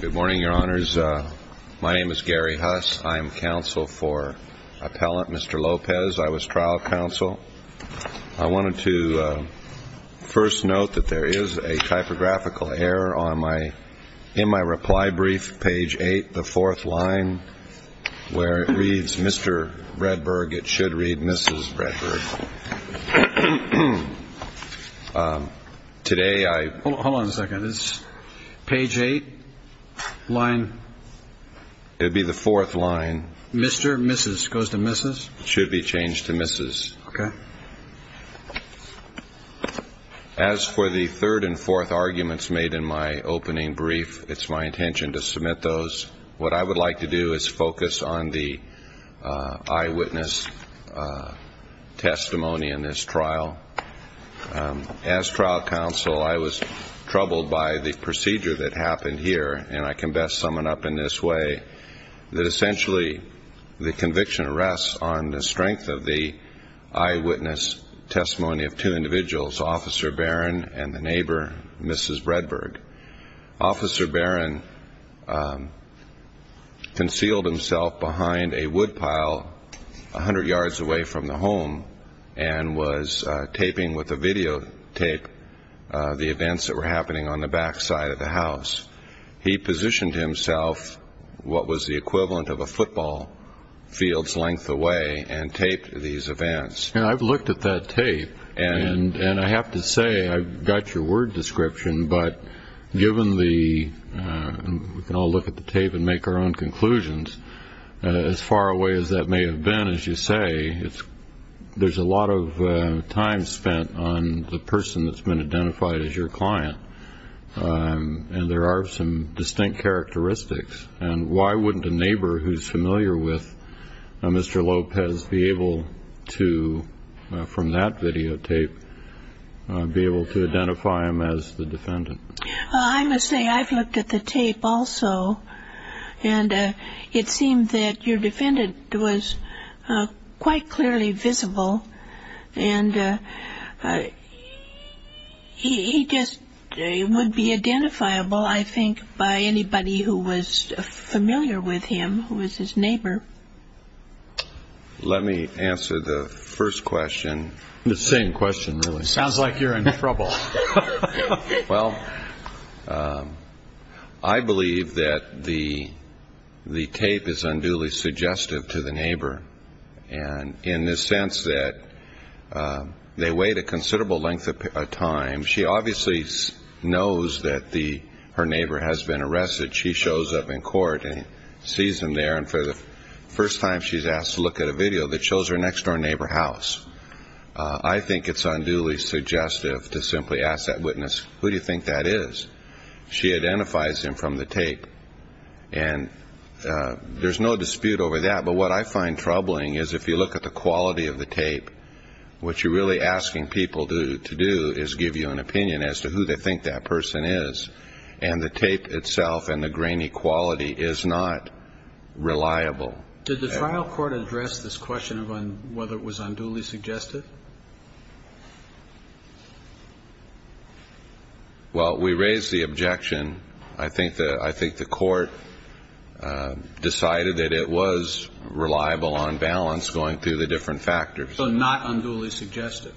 Good morning, your honors. My name is Gary Huss. I am counsel for appellant Mr. Lopez. I was trial counsel. I wanted to first note that there is a typographical error in my reply brief, page 8, the fourth line, where it reads Mr. Redberg, it should read Mrs. Redberg. Today I should be changed to Mrs. Redberg. As for the third and fourth arguments made in my opening brief, it's my intention to submit those. What I would like to do is focus on the eyewitness testimony in this trial. As trial counsel, I was troubled by the procedure that happened here, and I can best sum it up in this way, that essentially the conviction rests on the strength of the eyewitness testimony of two individuals, Officer Barron and the neighbor, Mrs. Redberg. Officer Barron concealed himself behind a woodpile 100 yards away from the home and was taping with a videotape the events that were taking place at that time. I would like to say, I've got your word description, but given the, we can all look at the tape and make our own conclusions, as far away as that may have been, as you say, there's a lot of time spent on the person that's been identified as your client, and I would like to ask you to give us a little bit more detail on that. And there are some distinct characteristics, and why wouldn't a neighbor who's familiar with Mr. Lopez be able to, from that videotape, be able to identify him as the defendant? Well, I must say, I've looked at the tape also, and it seemed that your defendant was quite clearly visible, and he just would be identifiable, I think, by anybody who was familiar with him, who was his neighbor. Let me answer the first question. The same question, really. Sounds like you're in trouble. Well, I believe that the tape is unduly suggestive to the neighbor, and in the sense that they wait a considerable length of time. She obviously knows that her neighbor has been arrested. She shows up in court and sees him there, and for the first time, she's asked to look at a video that shows her next-door neighbor's house. I think it's unduly suggestive to simply ask that witness, who do you think that is? She identifies him from the tape, and there's no dispute over that, but what I find troubling is if you look at the quality of the tape, what you're really asking people to do is give you an opinion as to who they think that person is, and the tape itself and the grainy quality is not reliable. Did the trial court address this question of whether it was unduly suggestive? Well, we raised the objection. I think the court decided that it was reliable on balance going through the different factors. So not unduly suggestive?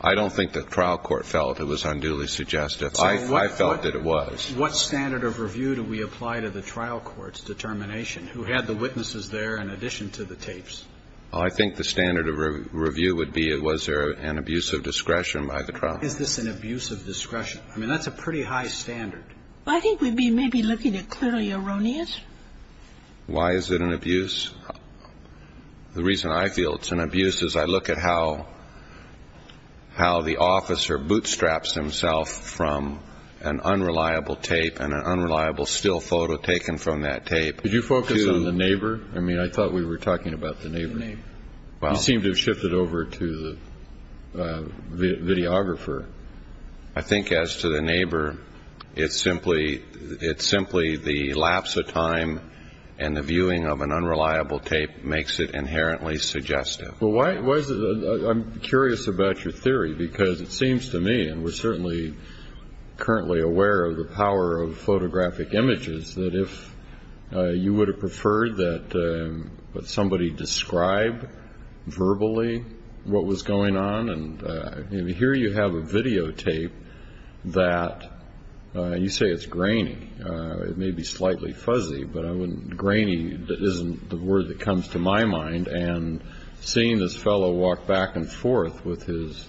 I don't think the trial court felt it was unduly suggestive. I felt that it was. What standard of review do we apply to the trial court's determination, who had the witnesses there in addition to the tapes? I think the standard of review would be was there an abuse of discretion by the trial? Is this an abuse of discretion? I mean, that's a pretty high standard. I think we'd be maybe looking at clearly erroneous. Why is it an abuse? The reason I feel it's an abuse is I look at how the officer bootstraps himself from an unreliable tape and an unreliable still photo taken from that tape. Did you focus on the neighbor? I mean, I thought we were talking about the neighbor. You seem to have shifted over to the videographer. I think as to the neighbor, it's simply the lapse of time and the viewing of an unreliable tape makes it inherently suggestive. Well, I'm curious about your theory because it seems to me, and we're certainly currently aware of the power of photographic images, that if you would have preferred that somebody describe verbally what was going on, and here you have a videotape that you say it's grainy. It may be slightly fuzzy, but grainy isn't the word that comes to my mind, and seeing this fellow walk back and forth with his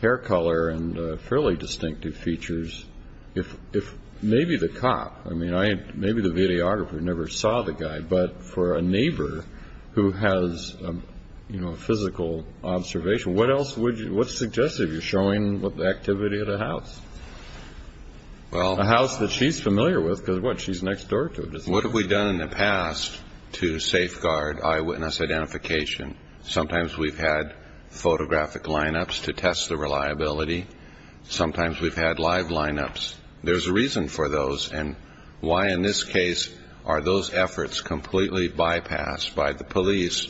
hair color and fairly distinctive features, if maybe the cop, I mean, maybe the videographer never saw the guy, but for a neighbor who has a physical observation, what else would you suggest if you're showing the activity of the house? A house that she's familiar with because, what, she's next door to it. What have we done in the past to safeguard eyewitness identification? Sometimes we've had photographic lineups to test the reliability. Sometimes we've had live lineups. There's a reason for those, and why in this case are those efforts completely bypassed by the police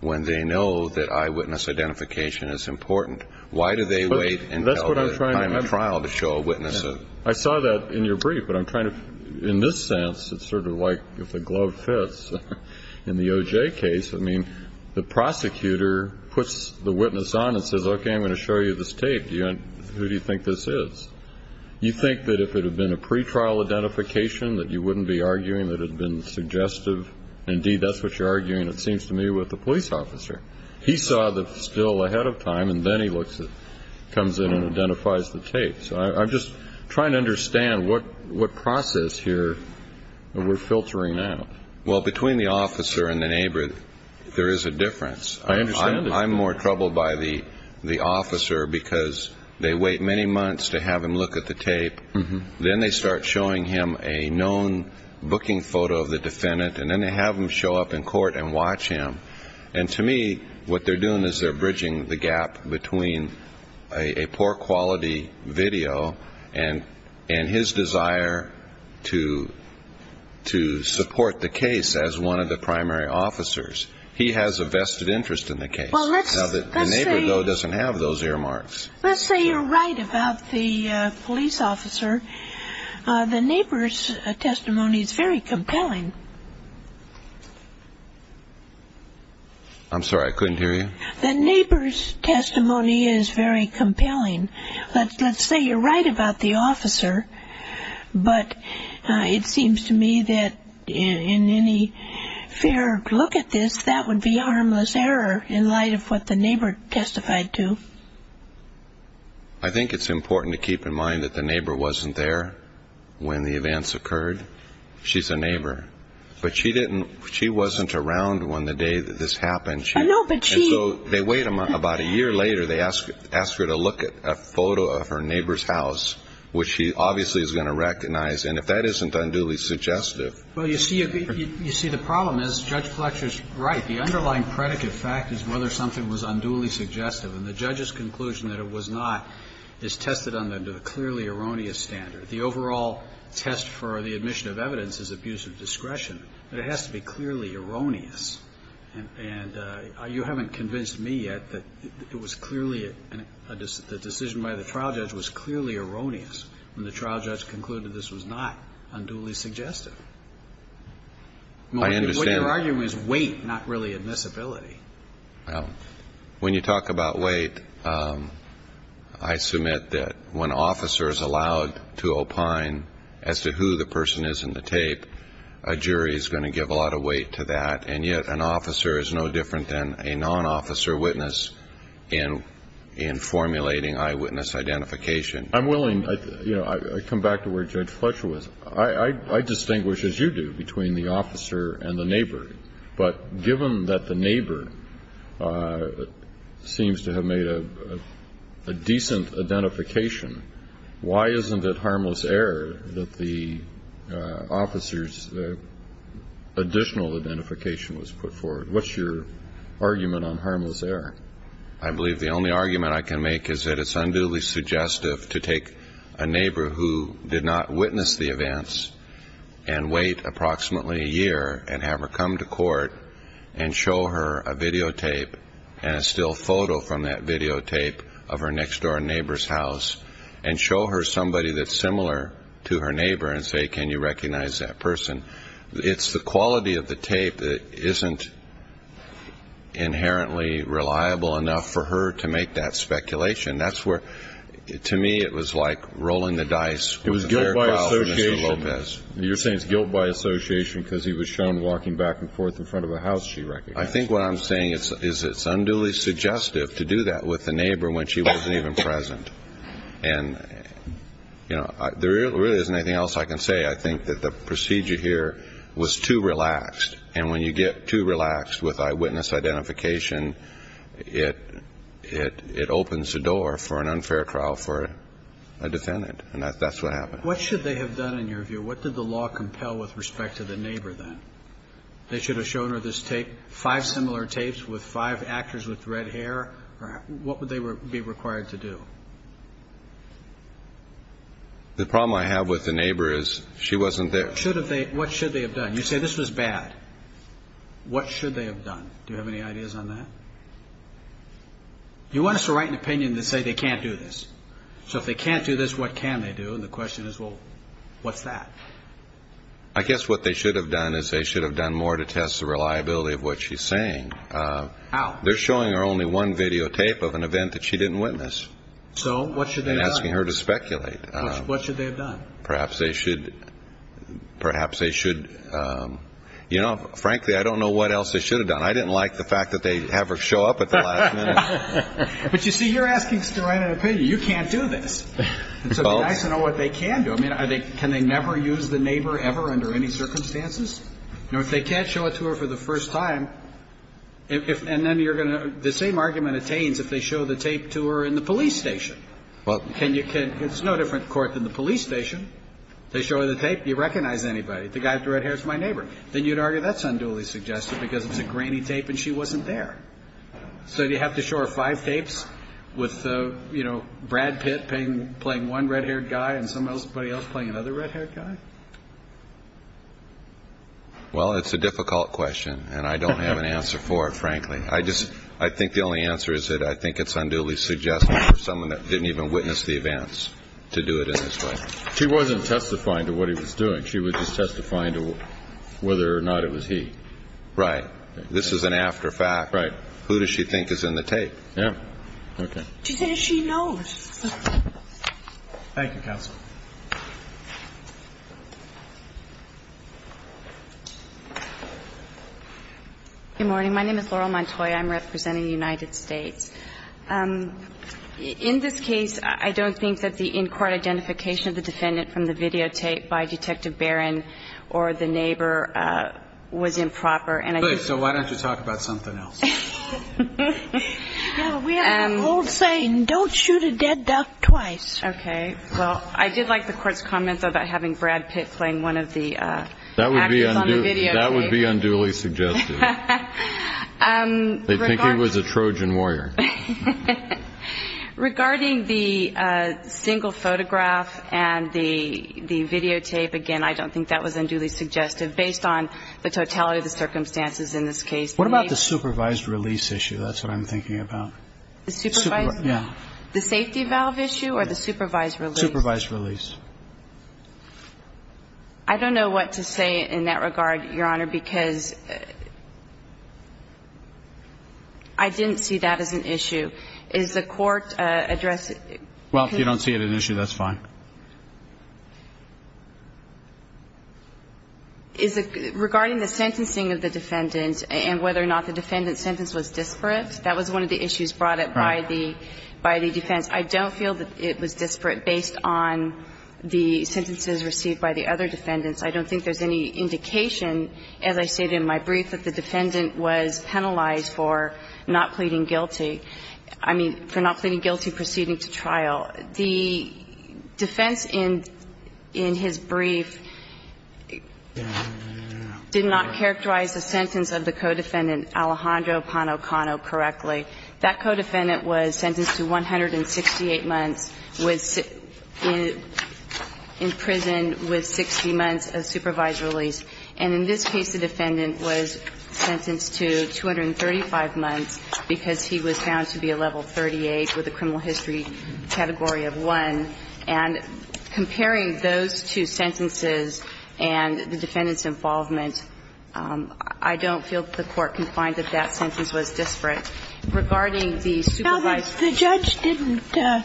when they know that eyewitness identification is important? Why do they wait until the time of trial to show a witness? I saw that in your brief, but I'm trying to, in this sense, it's sort of like if a glove fits. In the O.J. case, I mean, the prosecutor puts the witness on and says, okay, I'm going to show you this tape. Who do you think this is? You think that if it had been a pretrial identification that you wouldn't be arguing that it had been suggestive? Indeed, that's what you're arguing, it seems to me, with the police officer. He saw the still ahead of time, and then he comes in and identifies the tape. So I'm just trying to understand what process here we're filtering out. Well, between the officer and the neighbor, there is a difference. I understand that. I'm troubled by the officer because they wait many months to have him look at the tape. Then they start showing him a known booking photo of the defendant, and then they have him show up in court and watch him. And to me, what they're doing is they're bridging the gap between a poor-quality video and his desire to support the case as one of the primary officers. He has a vested interest in the case. The neighbor, though, doesn't have those earmarks. Let's say you're right about the police officer. The neighbor's testimony is very compelling. I'm sorry, I couldn't hear you. The neighbor's testimony is very compelling. Let's say you're right about the officer, but it seems to me that in any fair look at this, that would be harmless error in light of what the neighbor testified to. I think it's important to keep in mind that the neighbor wasn't there when the events occurred. She's a neighbor. But she wasn't around when the day that this happened. And so they wait about a year later, they ask her to look at a photo of her neighbor's house, which she obviously is going to recognize. And if that isn't unduly suggestive. Well, you see, the problem is Judge Fletcher's right. The underlying predicate fact is whether something was unduly suggestive. And the judge's conclusion that it was not is tested on a clearly erroneous standard. The overall test for the admission of evidence is abuse of discretion, but it has to be clearly erroneous. And you haven't convinced me yet that it was clearly a decision by the trial judge was clearly erroneous when the trial judge concluded this was not unduly suggestive. What you're arguing is weight, not really admissibility. When you talk about weight, I submit that when officers are allowed to opine as to who the person is in the tape, a jury is going to give a lot of weight to that. And yet an officer is no different than a non-officer witness in formulating eyewitness identification. I'm willing, you know, I come back to where Judge Fletcher was. I distinguish, as you do, between the officer and the neighbor. But given that the neighbor seems to have made a decent identification, why isn't it harmless error that the officer's additional identification was put forward? What's your argument on harmless error? I believe the only argument I can make is that it's unduly suggestive to take a neighbor who did not witness the events and wait approximately a year and have her come to court and show her a videotape and a still photo from that videotape of her next-door neighbor's house and show her somebody that's similar to her neighbor and say, can you recognize that person? It's the quality of the tape that isn't inherently reliable enough for her to make that speculation. That's where, to me, it was like rolling the dice. It was guilt by association. You're saying it's guilt by association because he was shown walking back and forth in front of a house she recognized. I think what I'm saying is it's unduly suggestive to do that with a neighbor when she wasn't even present. And, you know, there really isn't anything else I can say. I think that the procedure here was too relaxed. And when you get too relaxed with eyewitness identification, it opens the door for an unfair trial for a defendant. And that's what happened. What should they have done, in your view? What did the law compel with respect to the neighbor then? They should have shown her this tape, five similar tapes with five actors with red hair. What would they be required to do? The problem I have with the neighbor is she wasn't there. What should they have done? You say this was bad. What should they have done? Do you have any ideas on that? You want us to write an opinion that say they can't do this. So if they can't do this, what can they do? And the question is, well, what's that? I guess what they should have done is they should have done more to test the reliability of what she's saying. How? They're showing her only one videotape of an event that she didn't witness. So what should they have done? And asking her to speculate. What should they have done? Perhaps they should, you know, frankly, I don't know what else they should have done. I didn't like the fact that they have her show up at the last minute. But, you see, you're asking us to write an opinion. You can't do this. So it would be nice to know what they can do. I mean, can they never use the neighbor ever under any circumstances? You know, if they can't show it to her for the first time, and then you're going to, the same argument attains if they show the tape to her in the police station. It's no different court than the police station. They show her the tape. Do you recognize anybody? The guy with the red hair is my neighbor. Then you'd argue that's unduly suggestive because it's a granny tape and she wasn't there. So do you have to show her five tapes with, you know, Brad Pitt playing one red-haired guy and somebody else playing another red-haired guy? Well, it's a difficult question, and I don't have an answer for it, frankly. I think the only answer is that I think it's unduly suggestive for someone that didn't even witness the events to do it in this way. She wasn't testifying to what he was doing. She was just testifying to whether or not it was he. Right. This is an after fact. Right. Who does she think is in the tape? Yeah. Okay. She says she knows. Thank you, counsel. Good morning. My name is Laurel Montoya. I'm representing the United States. In this case, I don't think that the in-court identification of the defendant from the videotape by Detective Barron or the neighbor was improper. So why don't you talk about something else? We have an old saying, don't shoot a dead duck twice. Okay. Well, I did like the court's comments about having Brad Pitt playing one of the actors on the videotape. That would be unduly suggestive. They think he was a Trojan warrior. Regarding the single photograph and the videotape, again, I don't think that was unduly suggestive, but I think that the court's comments about having Brad Pitt playing one of the actors on the videotape was unduly suggestive. Based on the totality of the circumstances in this case, the neighbor was not. What about the supervised release issue? That's what I'm thinking about. The supervised? Yeah. The safety valve issue or the supervised release? Supervised release. I don't know what to say in that regard, Your Honor, because I didn't see that as an issue. Is the court addressing? Well, if you don't see it as an issue, that's fine. Is it regarding the sentencing of the defendant and whether or not the defendant's sentence was disparate? That was one of the issues brought up by the defense. I don't feel that it was disparate based on the sentences received by the other defendants. I don't think there's any indication, as I stated in my brief, that the defendant was penalized for not pleading guilty. I mean, for not pleading guilty proceeding to trial. The defense in his brief did not characterize the sentence of the co-defendant Alejandro Pano Cano correctly. That co-defendant was sentenced to 168 months, was imprisoned with 60 months of supervised release. And in this case, the defendant was sentenced to 235 months because he was found to be a level 38 with a criminal history category of 1. And comparing those two sentences and the defendant's involvement, I don't feel that the court can find that that sentence was disparate regarding the supervised release. Now, the judge didn't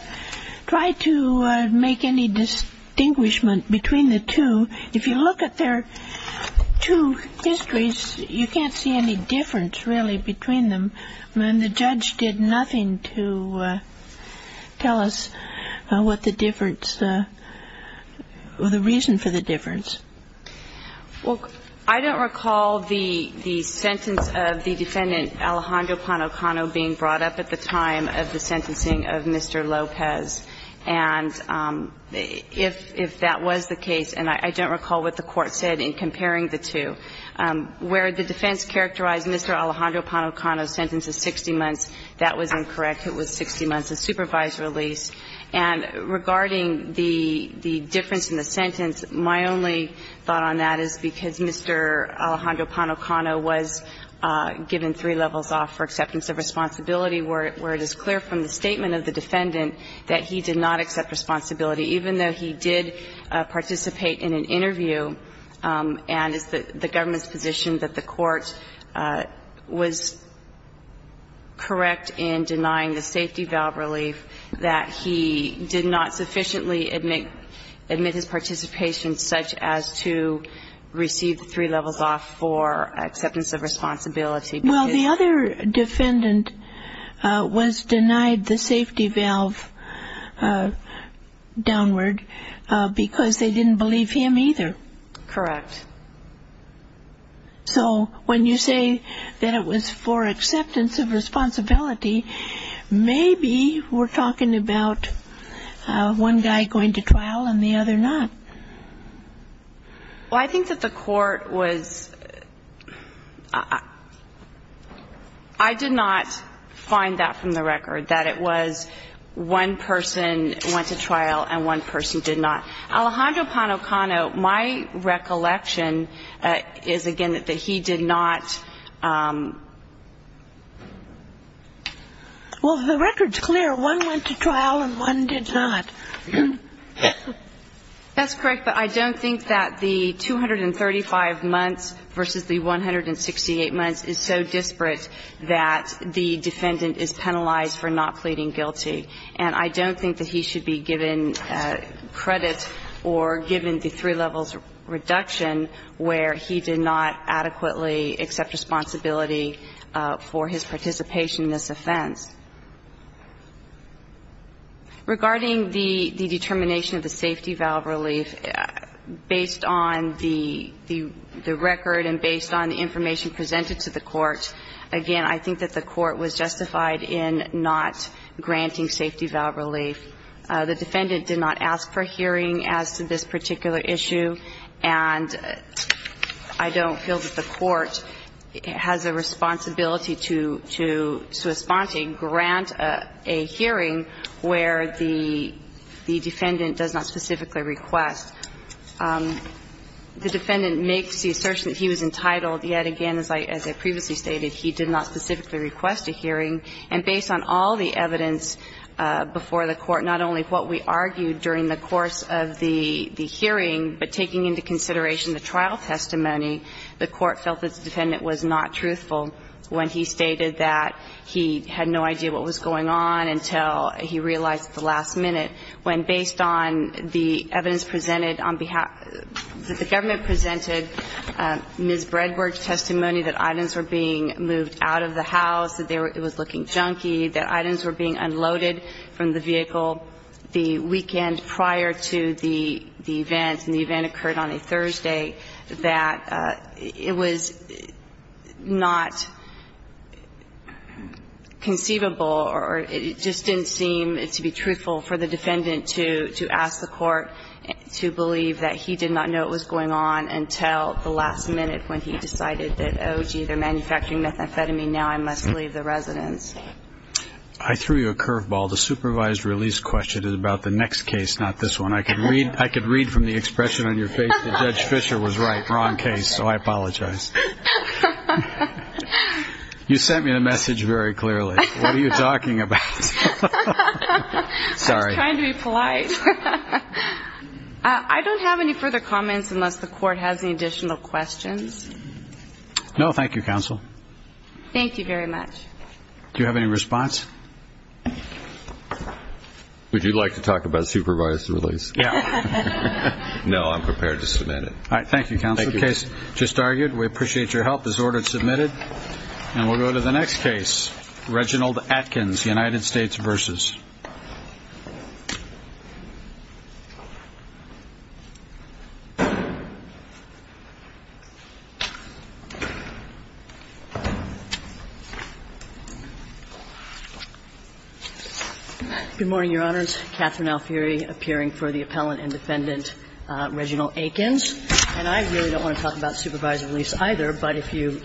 try to make any distinguishment between the two. If you look at their two histories, you can't see any difference, really, between them. I mean, the judge did nothing to tell us what the difference or the reason for the difference. Well, I don't recall the sentence of the defendant Alejandro Pano Cano being brought up at the time of the sentencing of Mr. Lopez. And if that was the case, and I don't recall what the court said in comparing the two, where the defense characterized Mr. Alejandro Pano Cano's sentence as 60 months, that was incorrect. It was 60 months of supervised release. And regarding the difference in the sentence, my only thought on that is because Mr. Alejandro Pano Cano was given three levels off for acceptance of responsibility where it is clear from the statement of the defendant that he did not accept responsibility, even though he did participate in an interview and it's the government's position that the court was correct in denying the safety valve relief, that he did not sufficiently admit his participation such as to receive three levels off for acceptance of responsibility. Well, the other defendant was denied the safety valve downward because they didn't believe him either. Correct. So when you say that it was for acceptance of responsibility, maybe we're talking about one guy going to trial and the other not. Well, I think that the court was ‑‑ I did not find that from the record, that it was one person went to trial and one person did not. Alejandro Pano Cano, my recollection is, again, that he did not ‑‑ Well, the record's clear. One went to trial and one did not. That's correct. But I don't think that the 235 months versus the 168 months is so disparate that the defendant is penalized for not pleading guilty. And I don't think that he should be given credit or given the three levels reduction where he did not adequately accept responsibility for his participation in this offense. Regarding the determination of the safety valve relief, based on the record and based on the information presented to the court, again, I think that the court was justified in not granting safety valve relief. The defendant did not ask for a hearing as to this particular issue, and I don't feel that the court has a responsibility to respond to a grant, a hearing where the defendant does not specifically request. The defendant makes the assertion that he was entitled, yet again, as I previously stated, he did not specifically request a hearing. And based on all the evidence before the court, not only what we argued during the course of the hearing, but taking into consideration the trial testimony, the court felt that the defendant was not truthful when he stated that he had no idea what was going on until he realized at the last minute, when based on the evidence presented on behalf of the government presented, Ms. Bredwer's testimony that items were being moved out of the house, that it was looking junky, that items were being unloaded from the vehicle the weekend prior to the event, and the event occurred on a Thursday, that it was not conceivable or it just didn't seem to be truthful for the defendant to ask the court to believe that he did not know it was going on until the last minute when he decided that, oh, gee, they're manufacturing methamphetamine, now I must leave the residence. I threw you a curveball. The supervised release question is about the next case, not this one. I could read from the expression on your face that Judge Fisher was right, wrong case, so I apologize. You sent me a message very clearly. What are you talking about? Sorry. I was trying to be polite. I don't have any further comments unless the court has any additional questions. No, thank you, counsel. Thank you very much. Do you have any response? Would you like to talk about supervised release? Yeah. No, I'm prepared to submit it. All right, thank you, counsel. Thank you. The case just argued. We appreciate your help. This order is submitted. And we'll go to the next case, Reginald Atkins, United States versus. Good morning, Your Honors. Katherine Alfieri appearing for the appellant and defendant, Reginald Atkins. And I really don't want to talk about supervised release either, but if you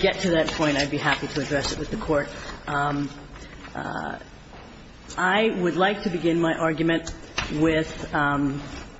get to that point, I'd be happy to address it with the court. I would like to begin my argument with the fact that this is a case in which the